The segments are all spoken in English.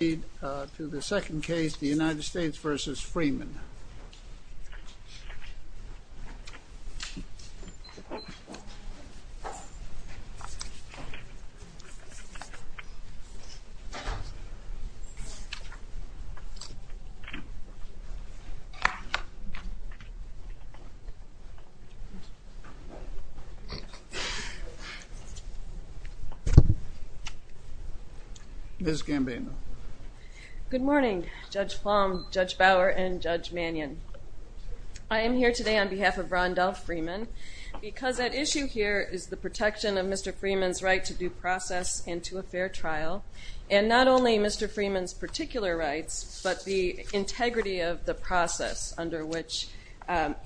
Let's proceed to the second case, the United States v. Freeman. Ms. Gambino Good morning, Judge Plum, Judge Bower, and Judge Mannion. I am here today on behalf of Rondell Freeman because at issue here is the protection of Mr. Freeman's right to due process and to a fair trial, and not only Mr. Freeman's particular rights, but the integrity of the process under which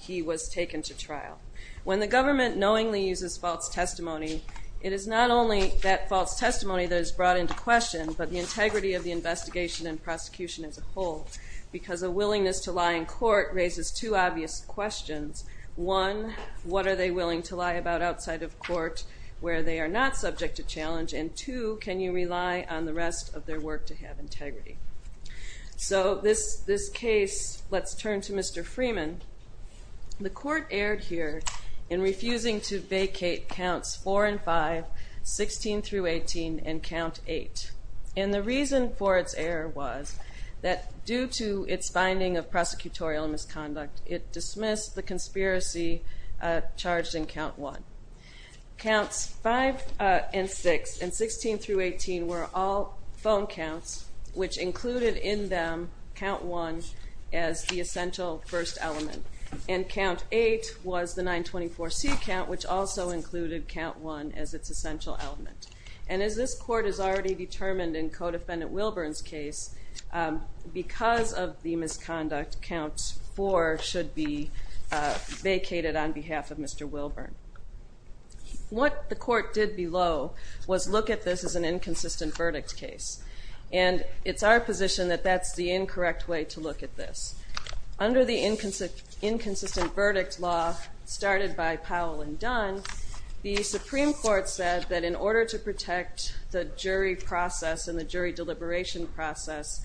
he was taken to trial. When the government knowingly uses false testimony, it is not only that false testimony that is brought into question, but the integrity of the investigation and prosecution as a whole, because a willingness to lie in court raises two obvious questions. One, what are they willing to lie about outside of court where they are not subject to challenge? And two, can you rely on the rest of their work to have integrity? So this case, let's turn to Mr. Freeman. The court erred here in refusing to vacate counts four and five, 16 through 18, and count eight. And the reason for its error was that due to its finding of prosecutorial misconduct, it dismissed the conspiracy charged in count one. Counts five and six, and 16 through 18, were all phone counts, which included in them count one as the essential first element. And count eight was the 924C count, which also included count one as its essential element. And as this court has already determined in Codefendant Wilburn's case, because of the misconduct, count four should be vacated on behalf of Mr. Wilburn. What the court did below was look at this as an inconsistent verdict case. And it's our position that that's the incorrect way to look at this. Under the inconsistent verdict law, started by Powell and Dunn, the Supreme Court said that in order to protect the jury process and the jury deliberation process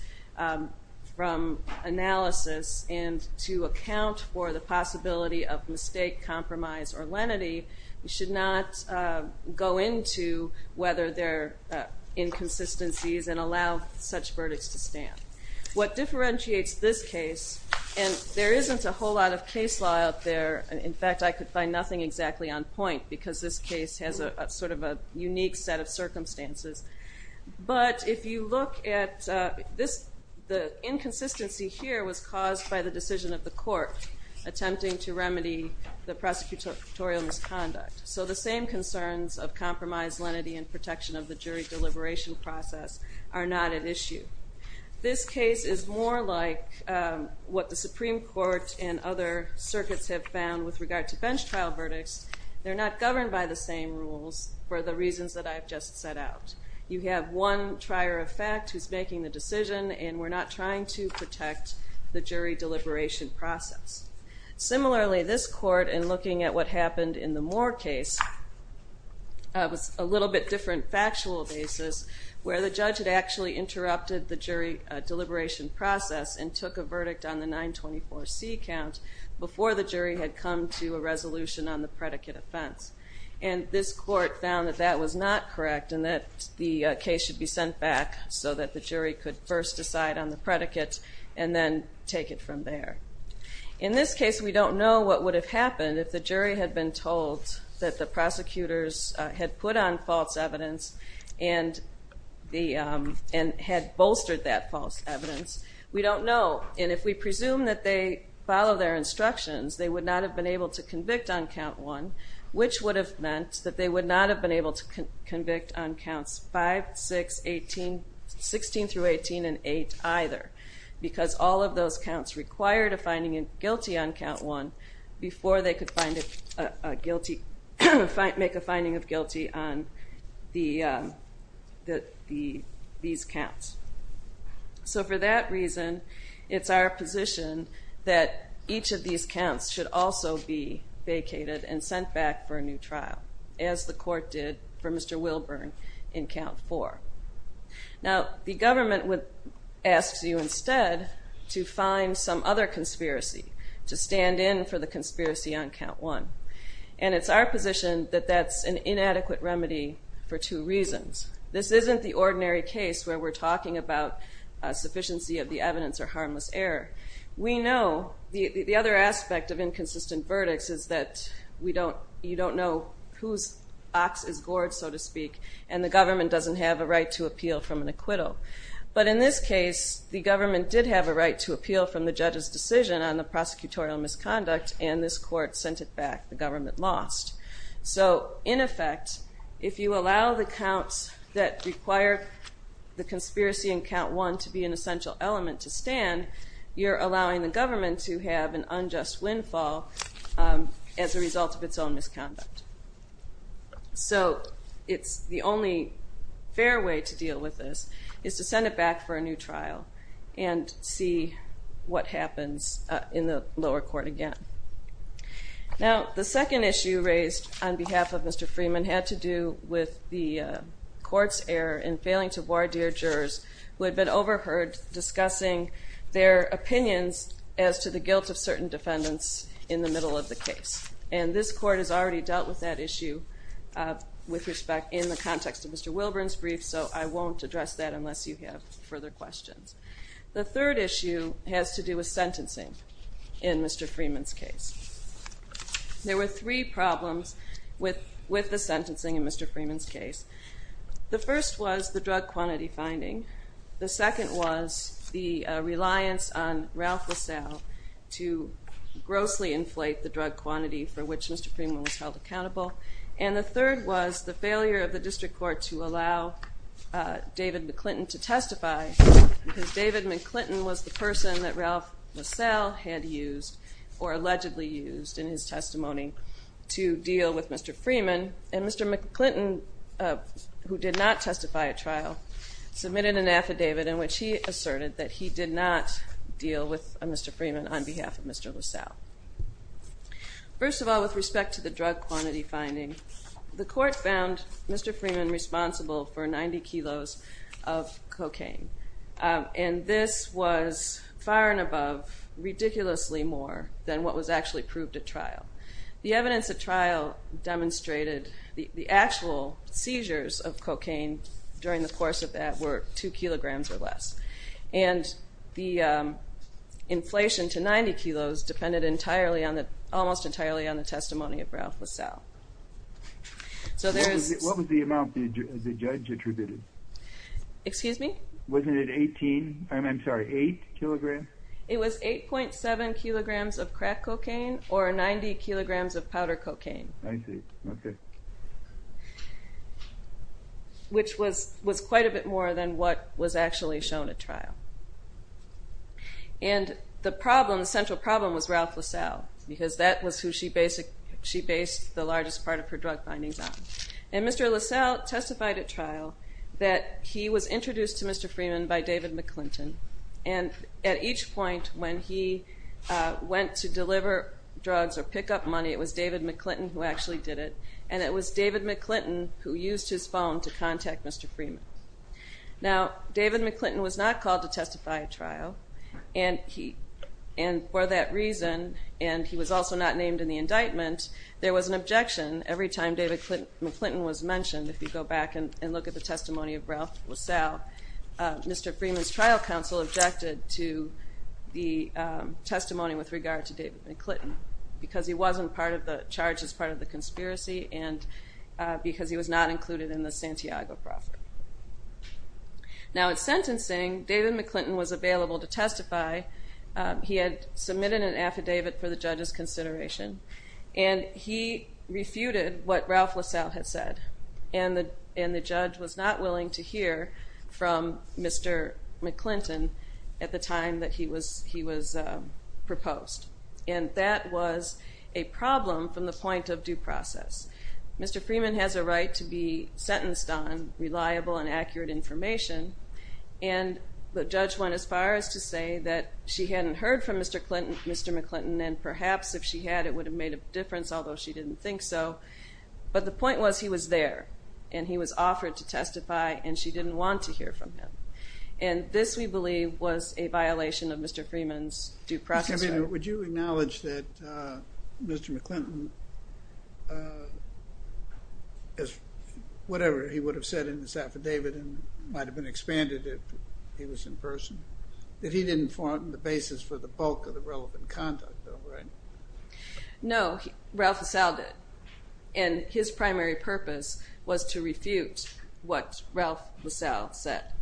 from analysis and to account for the possibility of mistake, compromise, or lenity, we should not go into whether there are inconsistencies and allow such verdicts to stand. What differentiates this case, and there isn't a whole lot of case law out there. In fact, I could find nothing exactly on point, because this case has a sort of a unique set of circumstances. But if you look at this, the inconsistency here was caused by the decision of the court attempting to remedy the prosecutorial misconduct. So the same concerns of compromise, lenity, and protection of the jury deliberation process are not at issue. This case is more like what the Supreme Court and other circuits have found with regard to bench trial verdicts. They're not governed by the same rules for the reasons that I've just set out. You have one trier of fact who's making the decision, and we're not trying to protect the jury deliberation process. Similarly, this court, in looking at what happened in the Moore case, was a little bit different factual basis, where the judge had actually interrupted the jury deliberation process and took a verdict on the 924C count before the jury had come to a resolution on the predicate offense. And this court found that that was not correct, and that the case should be sent back so that the jury could first decide on the predicate, and then take it from there. In this case, we don't know what would have happened if the jury had been told that the prosecutors had put on false evidence and had bolstered that false evidence. We don't know, and if we presume that they follow their instructions, they would not have been able to convict on count one, which would have meant that they would not have been able to convict on counts 5, 6, 16 through 18, and 8 either, because all of those counts required a finding guilty on count one before they could make a finding of guilty on these counts. So for that reason, it's our position that each of these counts should also be vacated and sent back for a new trial, as the court did for Mr. Wilburn in count four. Now, the government would ask you instead to find some other conspiracy to stand in for the conspiracy on count one. And it's our position that that's an inadequate remedy for two reasons. This isn't the ordinary case where we're talking about a sufficiency of the evidence or harmless error. We know the other aspect of inconsistent verdicts is that you don't know whose ox is gored, so to speak, and the case, the government did have a right to appeal from the judge's decision on the prosecutorial misconduct, and this court sent it back. The government lost. So in effect, if you allow the counts that require the conspiracy in count one to be an essential element to stand, you're allowing the government to have an unjust windfall as a result of its own misconduct. So it's the only fair way to deal with this is to send it back for a new trial and see what happens in the lower court again. Now, the second issue raised on behalf of Mr. Freeman had to do with the court's error in failing to voir dire jurors who had been overheard discussing their opinions as to the guilt of certain defendants in the middle of the case. And this court has already dealt with that issue with respect in the context of Mr. Wilburn's brief, so I won't address that unless you have further questions. The third issue has to do with sentencing in Mr. Freeman's case. There were three problems with the sentencing in Mr. Freeman's case. The first was the drug quantity finding. The second was the reliance on Ralph LaSalle to grossly inflate the drug was the failure of the district court to allow David McClinton to testify, because David McClinton was the person that Ralph LaSalle had used or allegedly used in his testimony to deal with Mr. Freeman. And Mr. McClinton, who did not testify at trial, submitted an affidavit in which he asserted that he did not deal with Mr. Freeman on behalf of Mr. LaSalle. First of all, with respect to the drug quantity finding, the court found Mr. Freeman responsible for 90 kilos of cocaine. And this was far and above, ridiculously more than what was actually proved at trial. The evidence at trial demonstrated the actual seizures of cocaine during the course of that were two kilograms or less. And the inflation to 90 kilos depended almost entirely on the testimony of Ralph LaSalle. What was the amount the judge attributed? Excuse me? Wasn't it 18, I'm sorry, 8 kilograms? It was 8.7 kilograms of crack cocaine or 90 kilograms of powder cocaine. Which was quite a bit more than what was actually shown at trial. And the problem, the central problem, was Ralph LaSalle, because that was who she based the largest part of her drug findings on. And Mr. LaSalle testified at trial that he was introduced to Mr. Freeman by David McClinton. And at each point when he went to deliver drugs or to testify, it was David McClinton who actually did it. And it was David McClinton who used his phone to contact Mr. Freeman. Now, David McClinton was not called to testify at trial. And for that reason, and he was also not named in the indictment, there was an objection every time David McClinton was mentioned. If you go back and look at the testimony of Ralph LaSalle, Mr. Freeman's trial counsel objected to the testimony with regard to David McClinton, because he wasn't part of the charges, part of the conspiracy, and because he was not included in the Santiago profit. Now at sentencing, David McClinton was available to testify. He had submitted an affidavit for the judge's consideration, and he refuted what Ralph LaSalle had said. And the judge was not willing to hear from Mr. McClinton at the time that he was proposed. And that was a problem from the point of due process. Mr. Freeman has a right to be sentenced on reliable and accurate information, and the judge went as far as to say that she hadn't heard from Mr. McClinton, and perhaps if she had, it would have made a difference, although she didn't think so. But the point was he was there, and he was offered to testify, and she didn't want to hear from him. And this, we believe, was a violation of Mr. Freeman's due process. Would you acknowledge that Mr. McClinton, as whatever he would have said in this affidavit, and might have been expanded if he was in person, that he didn't form the basis for the bulk of the set?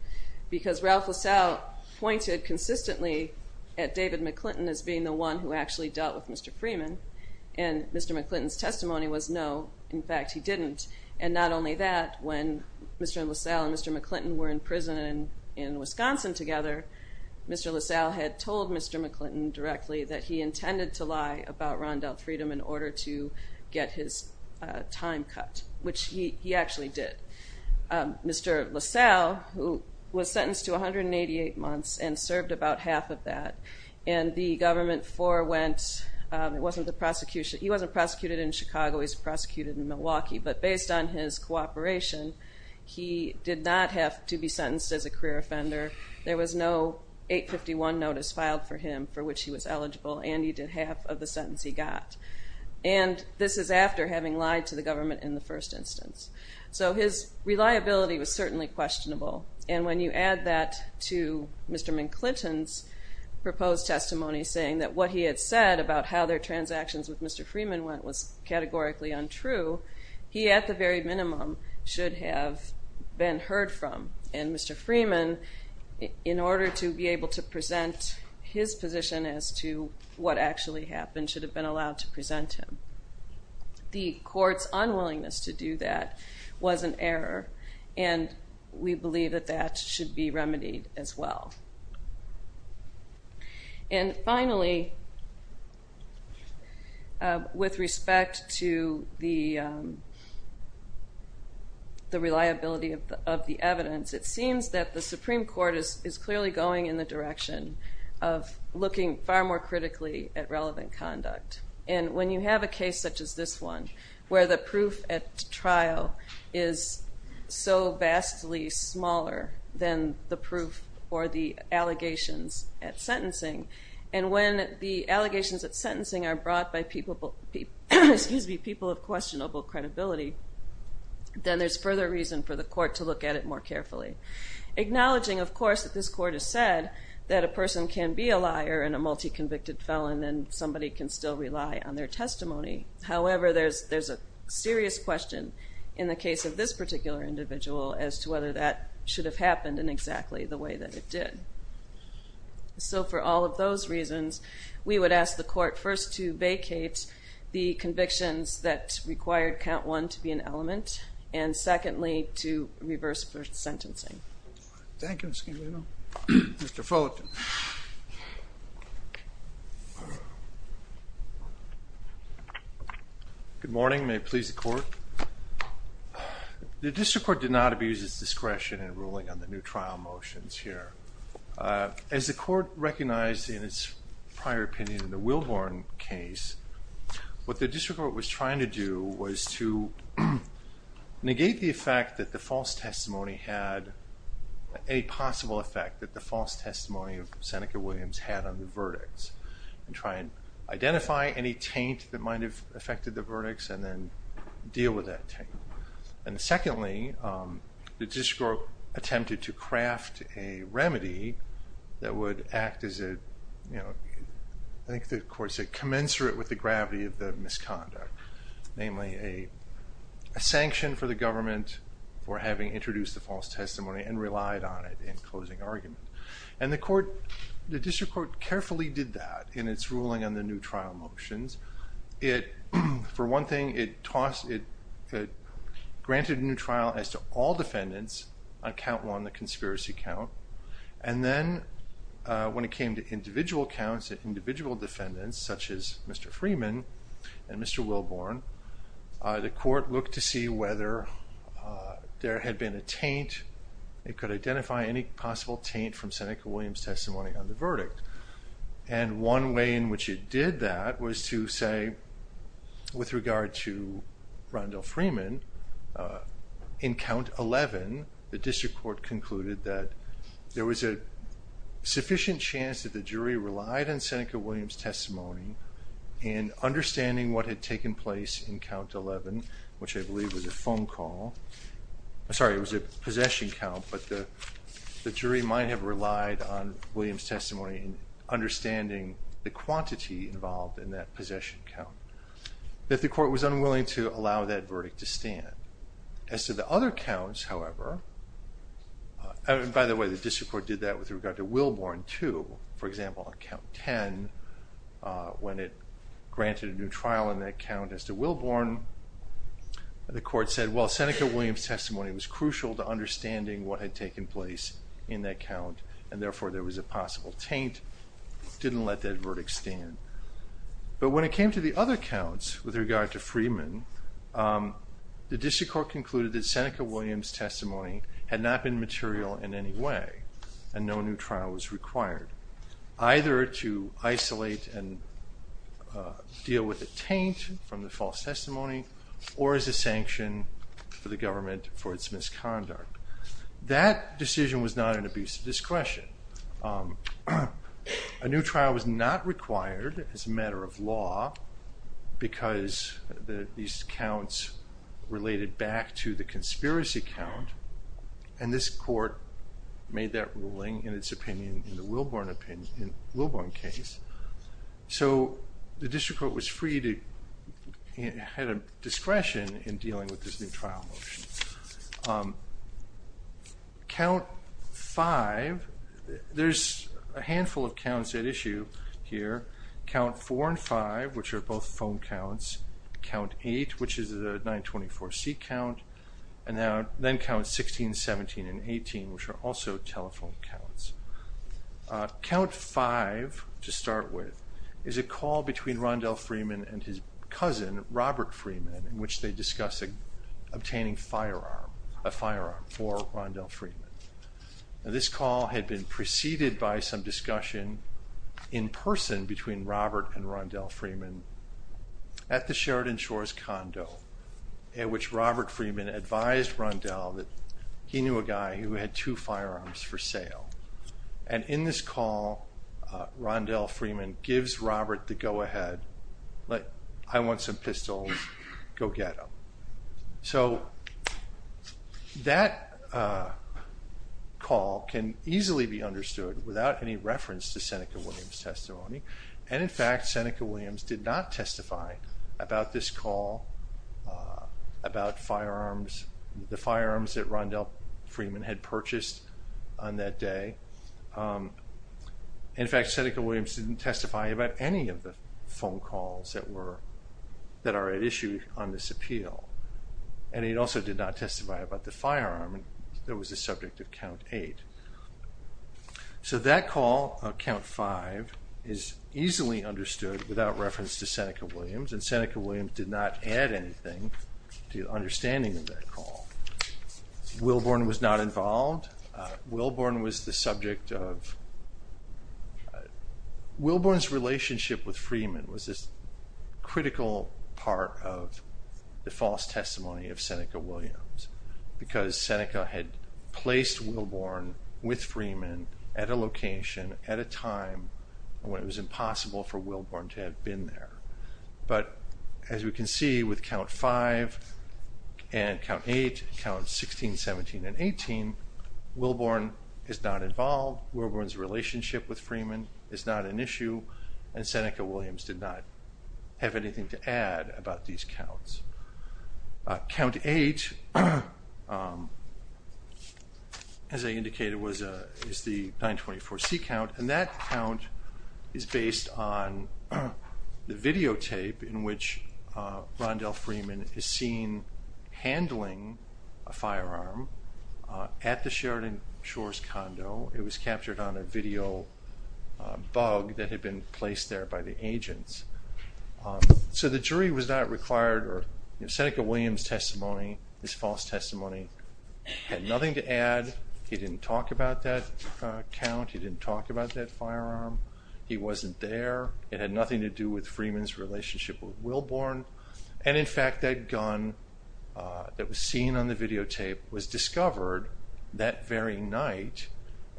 Because Ralph LaSalle pointed consistently at David McClinton as being the one who actually dealt with Mr. Freeman, and Mr. McClinton's testimony was no, in fact he didn't. And not only that, when Mr. LaSalle and Mr. McClinton were in prison in Wisconsin together, Mr. LaSalle had told Mr. McClinton directly that he intended to lie about Rondell Freedom in order to get his time cut, which he actually did. Mr. LaSalle, who was sentenced to 188 months and served about half of that, and the government forewent, it wasn't the prosecution, he wasn't prosecuted in Chicago, he's prosecuted in Milwaukee, but based on his cooperation, he did not have to be sentenced as a career offender. There was no 851 notice filed for him for which he was eligible, and he did half of the sentence he got. And this is after having lied to the government in the first instance. So his reliability was certainly questionable, and when you add that to Mr. McClinton's proposed testimony saying that what he had said about how their transactions with Mr. Freeman went was categorically untrue, he at the very minimum should have been heard from. And Mr. Freeman, in order to be able to present his position as to what actually happened, should have been allowed to present him. The court's unwillingness to do that was an error, and we believe that that should be remedied as well. And finally, with respect to the reliability of the evidence, it seems that the Supreme Court is clearly going in the direction of looking far more critically at relevant conduct. And when you have a case such as this one, where the proof at trial is so vastly smaller than the proof or the allegations at sentencing, and when the allegations at sentencing are brought by people of questionable credibility, then there's further reason for the court to look at it more carefully. Acknowledging, of course, that this court has said that a person can be a liar and a multi-convicted felon, and somebody can still rely on their testimony. However, there's a serious question in the case of this particular individual as to whether that should have happened in exactly the way that it did. So for all of those reasons, we would ask the court first to vacate the convictions that required count one to be an element, and secondly, to reverse sentencing. Thank you, Ms. Camino. Mr. Fullerton. Good morning. May it please the court? The district court did not abuse its discretion in ruling on the new trial motions here. As the court recognized in its prior opinion in the was to negate the effect that the false testimony had, any possible effect that the false testimony of Seneca Williams had on the verdicts, and try and identify any taint that might have affected the verdicts, and then deal with that taint. And secondly, the district court attempted to craft a remedy that would act as a, you know, I think the court said commensurate with the gravity of the misconduct, namely a sanction for the government for having introduced the false testimony and relied on it in closing argument. And the court, the district court carefully did that in its ruling on the new trial motions. It, for one thing, it granted a new trial as to all defendants on count one, the conspiracy count, and then when it came to individual counts, individual defendants such as Mr. Freeman and Mr. Wilborn, the court looked to see whether there had been a taint, it could identify any possible taint from Seneca Williams testimony on the verdict. And one way in which it did that was to say, with regard to Rondell Freeman, in count 11, the district court concluded that there was a sufficient chance that the jury relied on in understanding what had taken place in count 11, which I believe was a phone call, I'm sorry, it was a possession count, but the jury might have relied on Williams testimony in understanding the quantity involved in that possession count, that the court was unwilling to allow that verdict to stand. As to the other counts, however, and by the way, the district court did that with regard to Wilborn too, for example, on count 10, when it granted a new trial in that count as to Wilborn, the court said, well, Seneca Williams testimony was crucial to understanding what had taken place in that count, and therefore there was a possible taint, didn't let that verdict stand. But when it came to the other counts with regard to Freeman, the district court concluded that Seneca Williams testimony had not been material in any way, and no new trial was required, either to isolate and deal with the taint from the false testimony, or as a sanction for the government for its misconduct. That decision was not an abuse of discretion. A new trial was not required as a matter of law, because these counts related back to the conspiracy count, and this court made that ruling in its opinion, in the Wilborn case. So the district court was free to, had a discretion in dealing with this new There's a handful of counts at issue here. Count 4 and 5, which are both phone counts, count 8, which is the 924C count, and then count 16, 17, and 18, which are also telephone counts. Count 5, to start with, is a call between Rondell Freeman and his cousin, Robert Freeman, in which they discuss obtaining a firearm for Rondell Freeman. This call had been preceded by some discussion in person between Robert and Rondell Freeman at the Sheridan Shores condo, at which Robert Freeman advised Rondell that he knew a guy who had two firearms for sale. And in this call, Rondell Freeman gives Robert the go-ahead, like, I want some pistols, go get them. So that call can easily be understood without any reference to Seneca Williams testimony. And in fact, Seneca Williams did not testify about this call, about firearms, the firearms that Rondell Freeman had purchased on that day. In fact, Seneca Williams didn't testify about any of the phone calls that were, that are at issue on this appeal, and he also did not testify about the firearm that was the subject of count 8. So that call, count 5, is easily understood without reference to Seneca Williams, and Seneca Williams did not add anything to understanding of that call. Wilborn was not involved. Wilborn was the subject of, Wilborn's relationship with Freeman was this critical part of the false testimony of Seneca Williams, because Seneca had placed Wilborn with Freeman at a location, at a time when it was impossible for Wilborn to have been there. But as we can see with count 5 and count 8, count 16, 17, and 18, Wilborn is not involved. Wilborn's relationship with Freeman is not an issue, and Seneca Williams did not have anything to add about these counts. Count 8, as I indicated, was the 924C count, and that count is based on the videotape in which Rondell Freeman is seen handling a firearm at the Sheridan Shores condo. It was captured on a video bug that had been placed there by the agents. So the jury was not required, or Seneca Williams' testimony, his false testimony, had nothing to add. He didn't talk about that count. He didn't talk about that firearm. He wasn't there. It had nothing to do with Freeman's relationship with Wilborn, and in fact that gun that was seen on the videotape was discovered that very night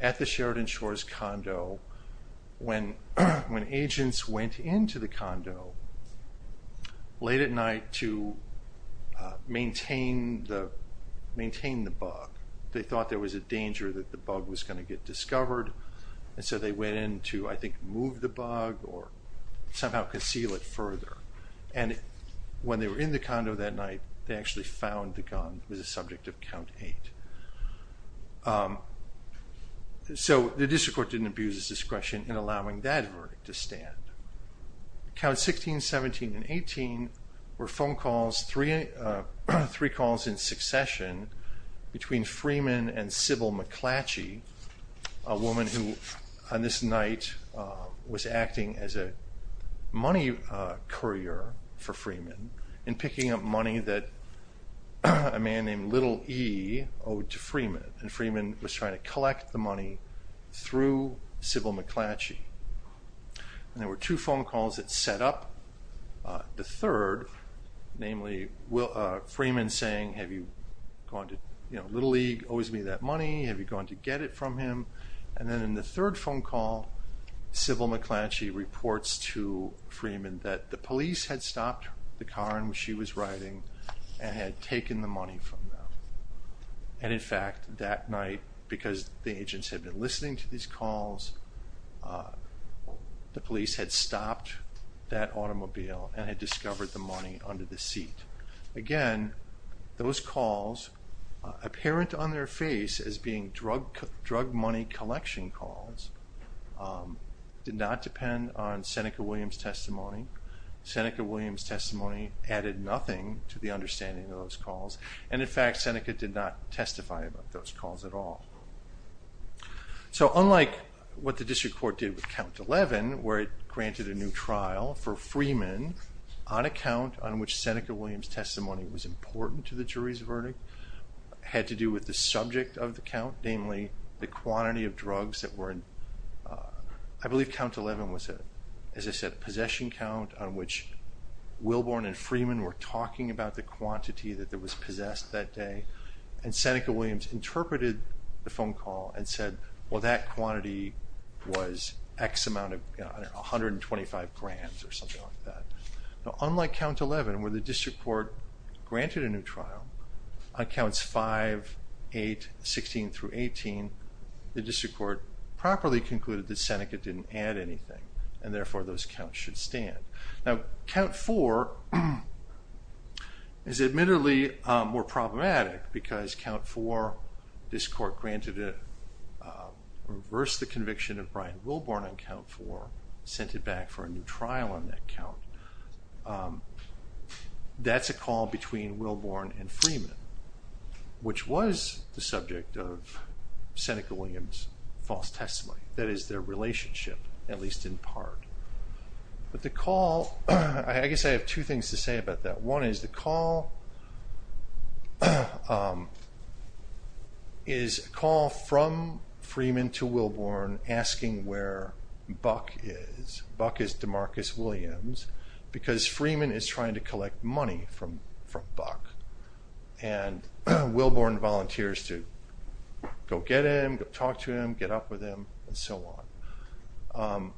at the Sheridan Shores condo when agents went into the condo late at night to maintain the bug. They thought there was a danger that the bug was going to get discovered, and so they went in to, I think, move the bug or somehow conceal it further, and when they were in the condo that night, they actually found the gun was a subject of count 8. So the district court didn't abuse its discretion in allowing that verdict to stand. Counts 16, 17, and 18 were phone calls, three calls in succession between Freeman and Sybil McClatchy, a woman who on this night was acting as a money courier for Freeman and picking up money that a man named Little E owed to Freeman, and Freeman was trying to collect the money through Sybil McClatchy, and there were two phone calls that set up the third, namely Freeman saying have you gone to, you know, Little E owes me that money, have you gone to get it from him, and then in the third phone call Sybil McClatchy reports to Freeman that the police had stopped the car in which she was riding and had taken the money from them, and in fact that night because the agents had been listening to these calls, the police had stopped that automobile and had discovered the money under the seat. Again, those calls, apparent on their face as being drug money collection calls, did not depend on Seneca Williams' testimony. Seneca Williams' testimony added nothing to the understanding of those calls, and in fact Seneca did not testify about those calls at all. So unlike what the district court did with count 11, where it granted a new trial for Freeman on a count on which Seneca Williams' testimony was important to the jury's verdict, had to do with the subject of the count, namely the quantity of drugs that were in, I believe count 11 was a, as I said, possession count on which Wilborn and Freeman were talking about the quantity that was possessed that day, and Seneca Williams interpreted the phone call and said, well that quantity was X amount of, you know, 125 grams or something like that. Now unlike count 11, where the district court granted a new trial on counts 5, 8, 16 through 18, the district court properly concluded that Seneca didn't add anything, and therefore those counts should stand. Now count 4 is admittedly more problematic because count 4, this court granted it, reversed the conviction of Brian Wilborn on count 4, sent it back for a new trial on that count. That's a call between Wilborn and Freeman, which was the subject of Seneca Williams' false testimony, that is their relationship, at least in part. But the call, I guess I have two things to say about that. One is the call is a call from Freeman to Wilborn asking where Buck is. Buck is Demarcus Williams because Freeman is trying to collect money from Buck, and Wilborn volunteers to go get him, go talk to him, get up with him, and so on.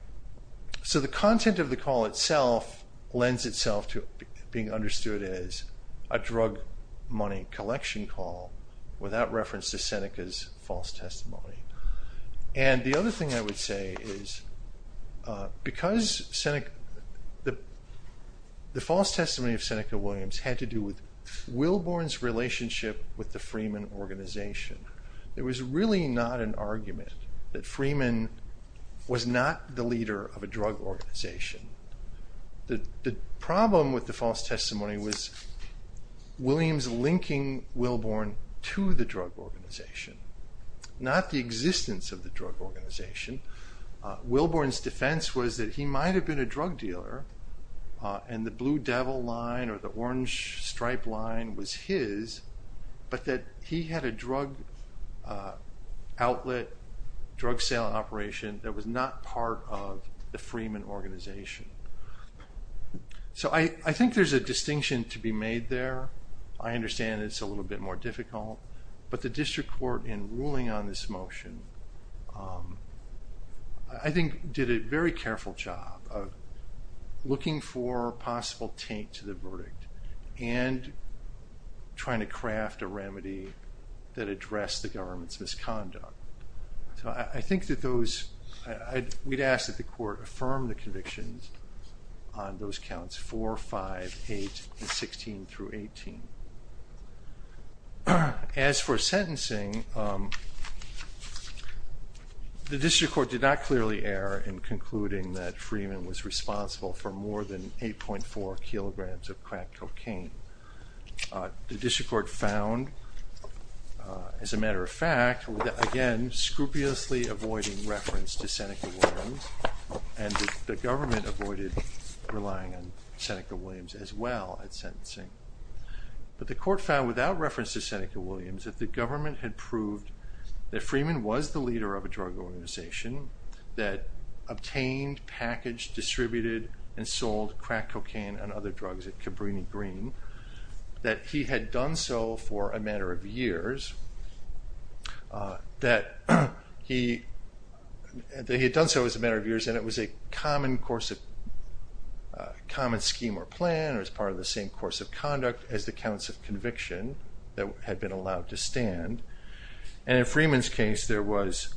So the content of the call itself lends itself to being understood as a drug money collection call without reference to Seneca's false testimony. And the other thing I would say is because the false testimony of Seneca Williams had to do with Wilborn's relationship with the Freeman organization, there was really not an argument that Freeman was not the leader of a drug organization. The problem with the false testimony was Williams linking Wilborn to the drug organization, not the existence of the drug organization. Wilborn's defense was that he might have been a drug dealer and the Blue Devil line or the Orange Stripe line was his, but that he had a drug outlet, drug sale operation that was not part of the Freeman organization. So I think there's a distinction to be made there. I understand it's a little bit more difficult, but the district court in ruling on this motion I think did a very good job of linking it to the verdict and trying to craft a remedy that addressed the government's misconduct. So I think that those, we'd ask that the court affirm the convictions on those counts 4, 5, 8, and 16 through 18. As for sentencing, the district court did not clearly err in concluding that Freeman was responsible for more than 8.4 kilograms of crack cocaine. The district court found, as a matter of fact, again scrupulously avoiding reference to Seneca Williams and the government avoided relying on Seneca Williams as well at sentencing, but the court found without reference to Seneca Williams that the government had proved that Freeman was the leader of a drug organization that obtained, packaged, distributed, and sold crack cocaine and other drugs at Cabrini Green, that he had done so for a matter of years, that he had done so as a matter of years and it was a common course of, common scheme or plan or as part of the same course of conduct as the counts of conviction that had been allowed to stand. And in Freeman's case there was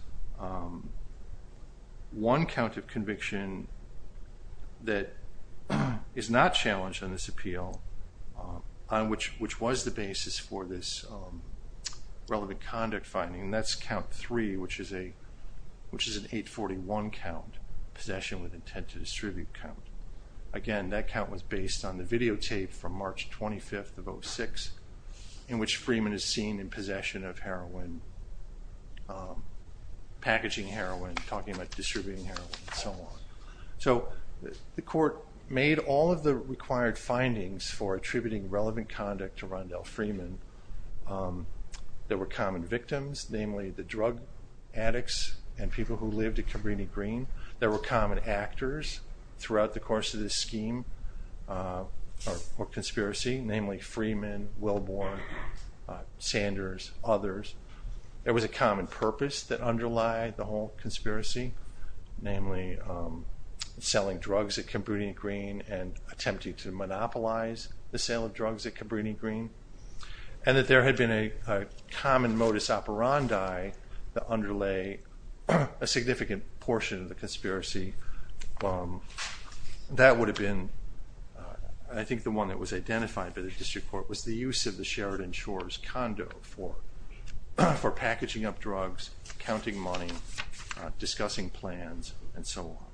one count of conviction that is not challenged on this appeal, on which was the basis for this relevant conduct finding, that's count 3, which is a, which is an 841 count, possession with intent to distribute count. Again that count was based on the videotape from March 25th of 06, in which Freeman is seen in possession of heroin, packaging heroin, talking about distributing heroin, and so on. So the court made all of the required findings for attributing relevant conduct to Rondell Freeman. There were common victims, namely the drug addicts and people who lived at Cabrini Green. There were common actors throughout the course of this scheme or conspiracy, namely Freeman, Wilborn, Sanders, others. There was a common purpose that underlie the whole conspiracy, namely selling drugs at Cabrini Green and attempting to monopolize the sale of drugs at Cabrini Green. And that there had been a common modus operandi that underlay a significant portion of the conspiracy. That would have been, I think the one that was identified by the District Court, was the use of the Sheridan Shores condo for packaging up drugs, counting money, discussing plans, and so on.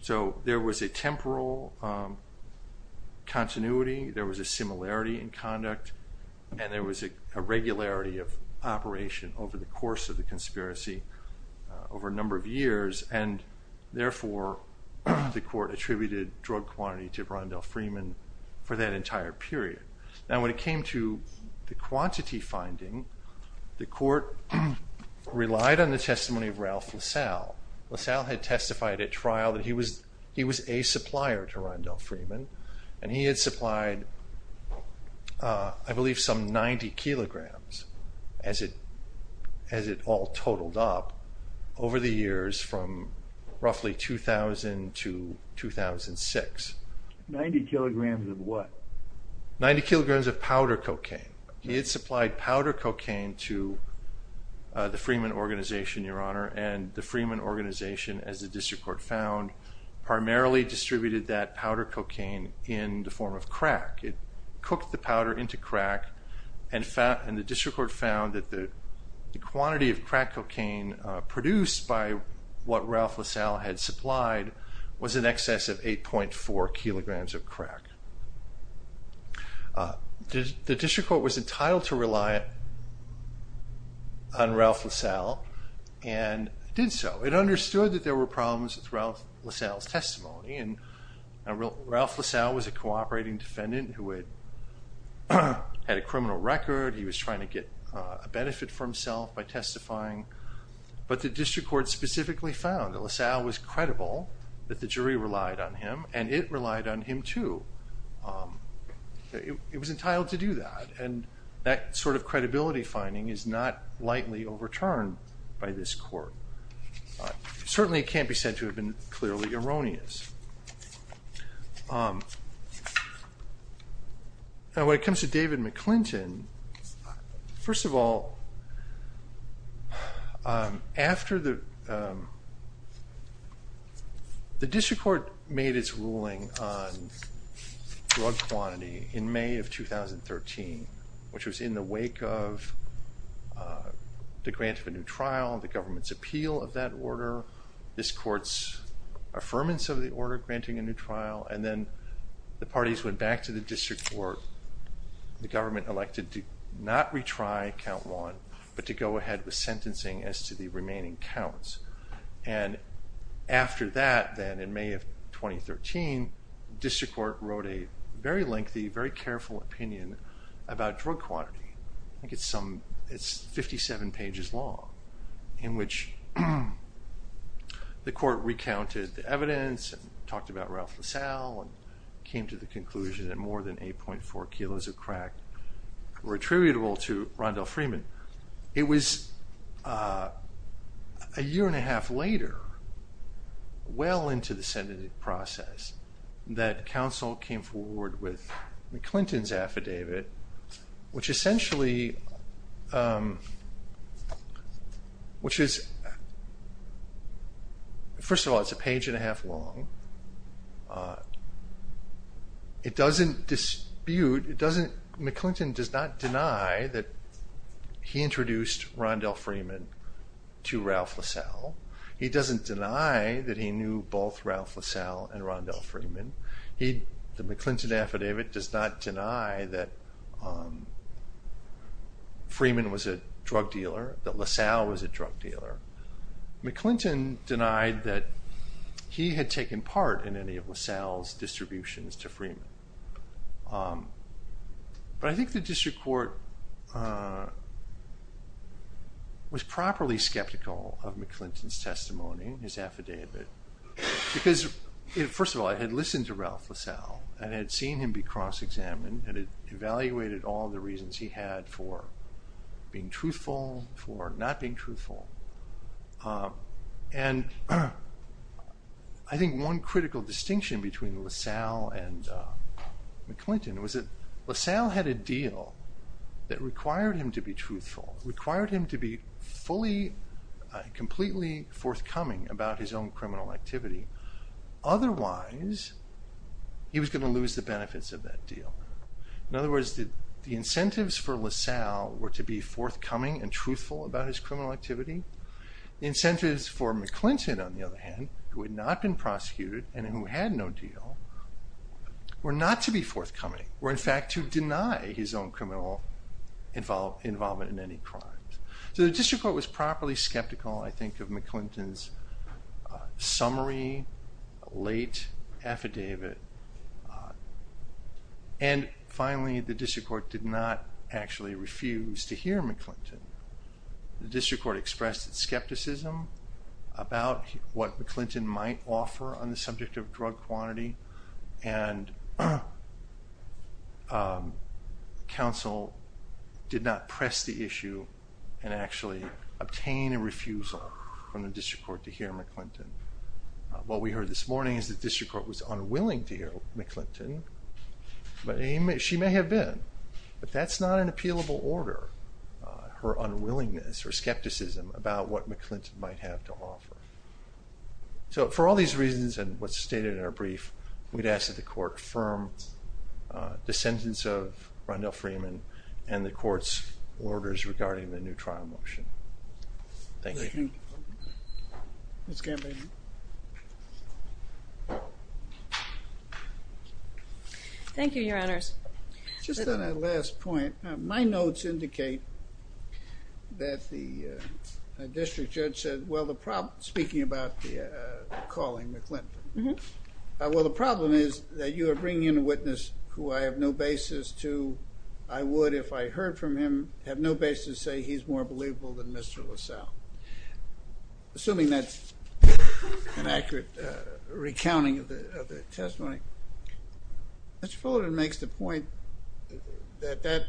So there was a temporal continuity, there was a similarity in conduct, and there was a regularity of operation over the course of the conspiracy over a number of years, and therefore the court attributed drug quantity to Rondell Freeman for that entire period. Now when it came to the quantity finding, the court relied on the testimony of Ralph LaSalle. LaSalle had testified at trial that he was a supplier to Rondell Freeman, and he had supplied I believe some 90 kilograms as it all totaled up over the years from roughly 2000 to 2006. 90 kilograms of what? 90 kilograms of powder cocaine. He had supplied powder cocaine to the Freeman organization, your honor, and the Freeman organization, as the District Court found, primarily distributed that powder cocaine in the form of crack. It cooked the powder into crack, and the District Court found that the quantity of crack cocaine produced by what Ralph LaSalle had supplied was in excess of 8.4 kilograms of crack. The District Court was entitled to rely on Ralph LaSalle and did so. It understood that there were problems with Ralph LaSalle's testimony, and Ralph LaSalle was a cooperating defendant who had a criminal record. He was trying to get a benefit for himself by testifying but the District Court specifically found that LaSalle was credible, that the jury relied on him, and it relied on him too. It was entitled to do that, and that sort of credibility finding is not lightly overturned by this court. Certainly it can't be said to have been clearly erroneous. Now when it comes to David McClinton, first of all, after the, the District Court made its ruling on drug quantity in May of 2013, which was in the wake of the grant of a new trial, the government's appeal of that order, this court's affirmance of the order granting a new trial, and then the parties went back to the District Court. The government elected to not retry count one, but to go ahead with sentencing as to the remaining counts, and after that, then in May of 2013, the District Court wrote a very lengthy, very careful opinion about drug quantity. I think it's some, it's 57 pages long, in which the court recounted the evidence, and talked about Ralph LaSalle, and came to the conclusion that more than 8.4 kilos of crack were attributable to Rondell Freeman. It was a year and a half later, well into the sentencing process, that counsel came forward with McClinton's affidavit, which essentially, which is, first of all, it's a page and a half long. It doesn't dispute, it doesn't, McClinton does not deny that he introduced Rondell Freeman to Ralph LaSalle. He doesn't deny that he knew both Ralph LaSalle and Rondell Freeman. He, the McClinton affidavit does not deny that Freeman was a drug dealer, that LaSalle was a drug dealer. McClinton denied that he had taken part in any of LaSalle's distributions to Freeman. But I think the District Court was properly skeptical of McClinton's testimony, his affidavit, because, first of all, it had listened to Ralph LaSalle, and had seen him be cross-examined, and it evaluated all the reasons he had for being truthful, for not being truthful. And I think one critical distinction between LaSalle and McClinton was that LaSalle had a deal that required him to be truthful, required him to be fully, completely forthcoming about his own criminal activity. Otherwise, he was going to LaSalle were to be forthcoming and truthful about his criminal activity. The incentives for McClinton, on the other hand, who had not been prosecuted and who had no deal, were not to be forthcoming, were in fact to deny his own criminal involvement in any crimes. So the District Court was properly skeptical, I think, of McClinton's summary, late affidavit. And finally, the District Court did not actually refuse to hear McClinton. The District Court expressed its skepticism about what McClinton might offer on the subject of drug quantity, and counsel did not press the issue and actually obtain a refusal from the District Court to hear McClinton. But she may have been, but that's not an appealable order, her unwillingness or skepticism about what McClinton might have to offer. So for all these reasons and what's stated in our brief, we'd ask that the Court confirm the sentence of Rondell Freeman and the Court's Thank you, Your Honors. Just on that last point, my notes indicate that the District Judge said, well, the problem, speaking about the calling McClinton, well, the problem is that you are bringing in a witness who I have no basis to, I would, if I heard from him, have no basis to say he's more believable than Mr. LaSalle. Assuming that's an accurate recounting of the testimony. Mr. Fullerton makes the point that that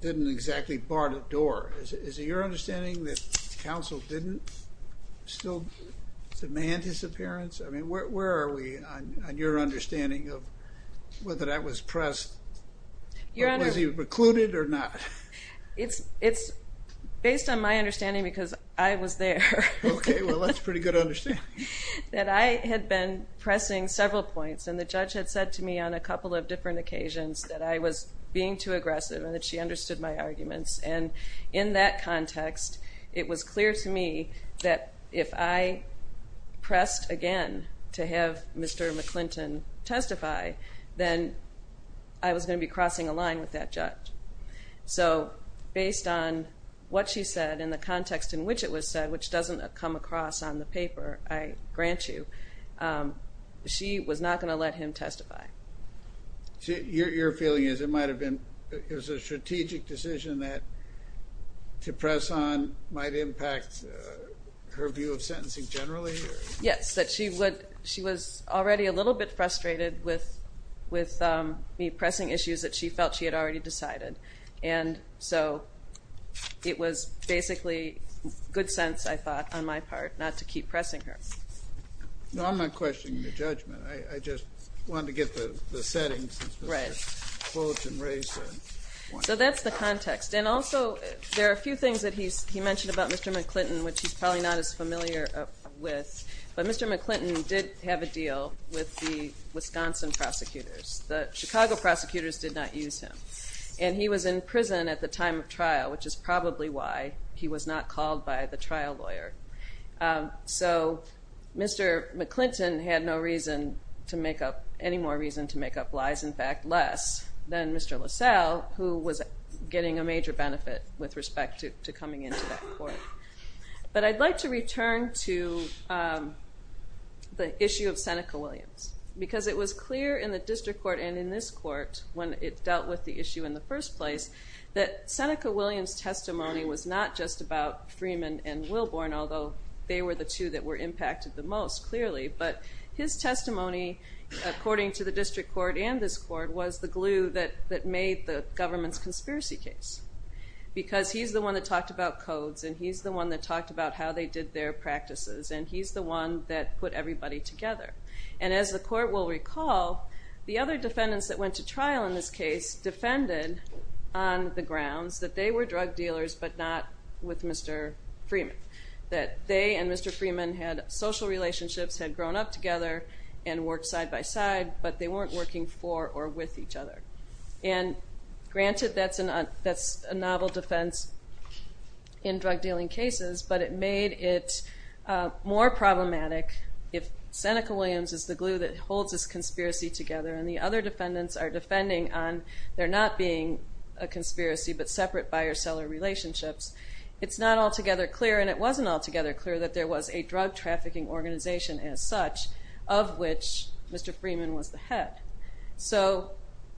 didn't exactly bar the door. Is it your understanding that counsel didn't still demand his appearance? I mean, where are we on your understanding of whether that was pressed? Was he recluded or not? It's based on my understanding because I was there. Okay, well, that's pretty good understanding. That I had been pressing several points and the judge had said to me on a couple of different occasions that I was being too aggressive and that she understood my arguments. And in that context, it was clear to me that if I pressed again to have Mr. McClinton testify, then I was going to be crossing a line with that judge. So based on what she said in the context in which it was said, which doesn't come across on the paper, I grant you, she was not going to let him testify. Your feeling is it might have been, it was a strategic decision that to press on might impact her view of sentencing generally? Yes, that she would, she was already a little bit frustrated with me pressing issues that she felt she had already decided. And so it was basically good sense, I thought, on my part not to keep pressing her. No, I'm not questioning your judgment. I just wanted to get the settings. So that's the context. And also there are a few things that he's, he mentioned about Mr. McClinton, which he's probably not as familiar with, but Mr. McClinton did have a deal with the and he was in prison at the time of trial, which is probably why he was not called by the trial lawyer. So Mr. McClinton had no reason to make up, any more reason to make up lies, in fact, less than Mr. LaSalle, who was getting a major benefit with respect to coming into that court. But I'd like to return to the issue of Seneca Williams, because it was clear in the district court and in this court, when it dealt with the issue in the first place, that Seneca Williams testimony was not just about Freeman and Wilborn, although they were the two that were impacted the most, clearly. But his testimony, according to the district court and this court, was the glue that made the government's conspiracy case. Because he's the one that talked about codes, and he's the one that talked about how they did their practices, and he's the one that put everybody together. And as the court will recall, the other defendants that went to trial in this case defended on the grounds that they were drug dealers, but not with Mr. Freeman. That they and Mr. Freeman had social relationships, had grown up together, and worked side by side, but they weren't working for or with each other. And granted, that's a novel defense in drug dealing cases, but it made it more problematic if Seneca Williams is the glue that holds this conspiracy together, and the other defendants are defending on there not being a conspiracy, but separate buyer-seller relationships. It's not altogether clear, and it wasn't altogether clear, that there was a drug trafficking organization as such, of which Mr. Freeman was the head. So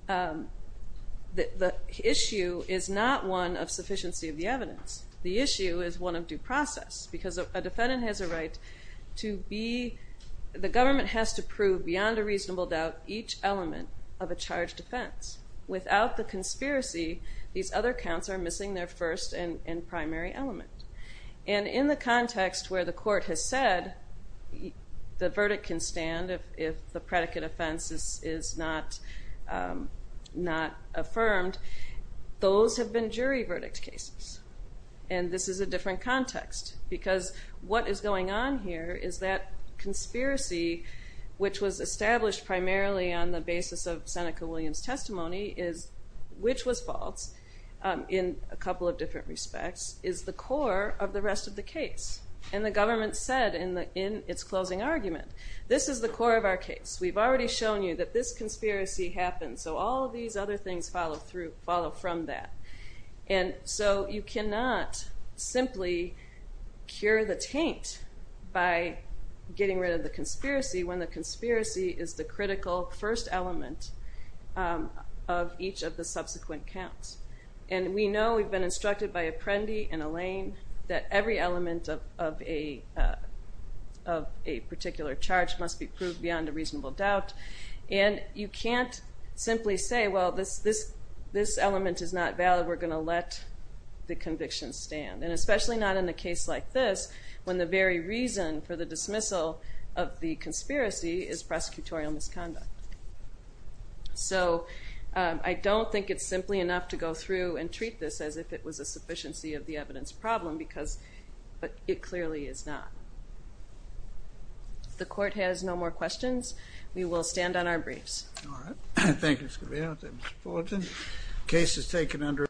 the issue is not one of sufficiency of the evidence. The issue is one of due process, because a defendant has a right to be, the government has to prove beyond a reasonable doubt, each element of a charged offense. Without the conspiracy, these other counts are missing their first and primary element. And in the context where the court has said, the verdict can stand if the predicate offense is not affirmed, those have been jury verdict cases. And this is a different context, because what is going on here is that conspiracy, which was established primarily on the basis of Seneca Williams' testimony, which was false, in a couple of different respects, is the core of the rest of the case. And the government said in its closing argument, this is the core of our case. We've already shown you that this conspiracy happened, so all of these other things follow from that. And so you cannot simply cure the taint by getting rid of the conspiracy, when the conspiracy is the critical first element of each of the subsequent counts. And we know, we've been instructed by Apprendi and Elaine, that every element of a particular charge must be proved beyond a reasonable doubt. And you can't simply say, well, this element is not valid, we're going to let the conviction stand. And especially not in a case like this, when the very reason for the dismissal of the conspiracy is prosecutorial misconduct. So I don't think it's simply enough to go through and treat this as if it was a sufficiency of the evidence problem, because it clearly is not. If the court has no more questions, we will stand on our briefs. All right. Thank you, Ms. Conveyor. Thank you, Mr. Fullerton. The case is taken under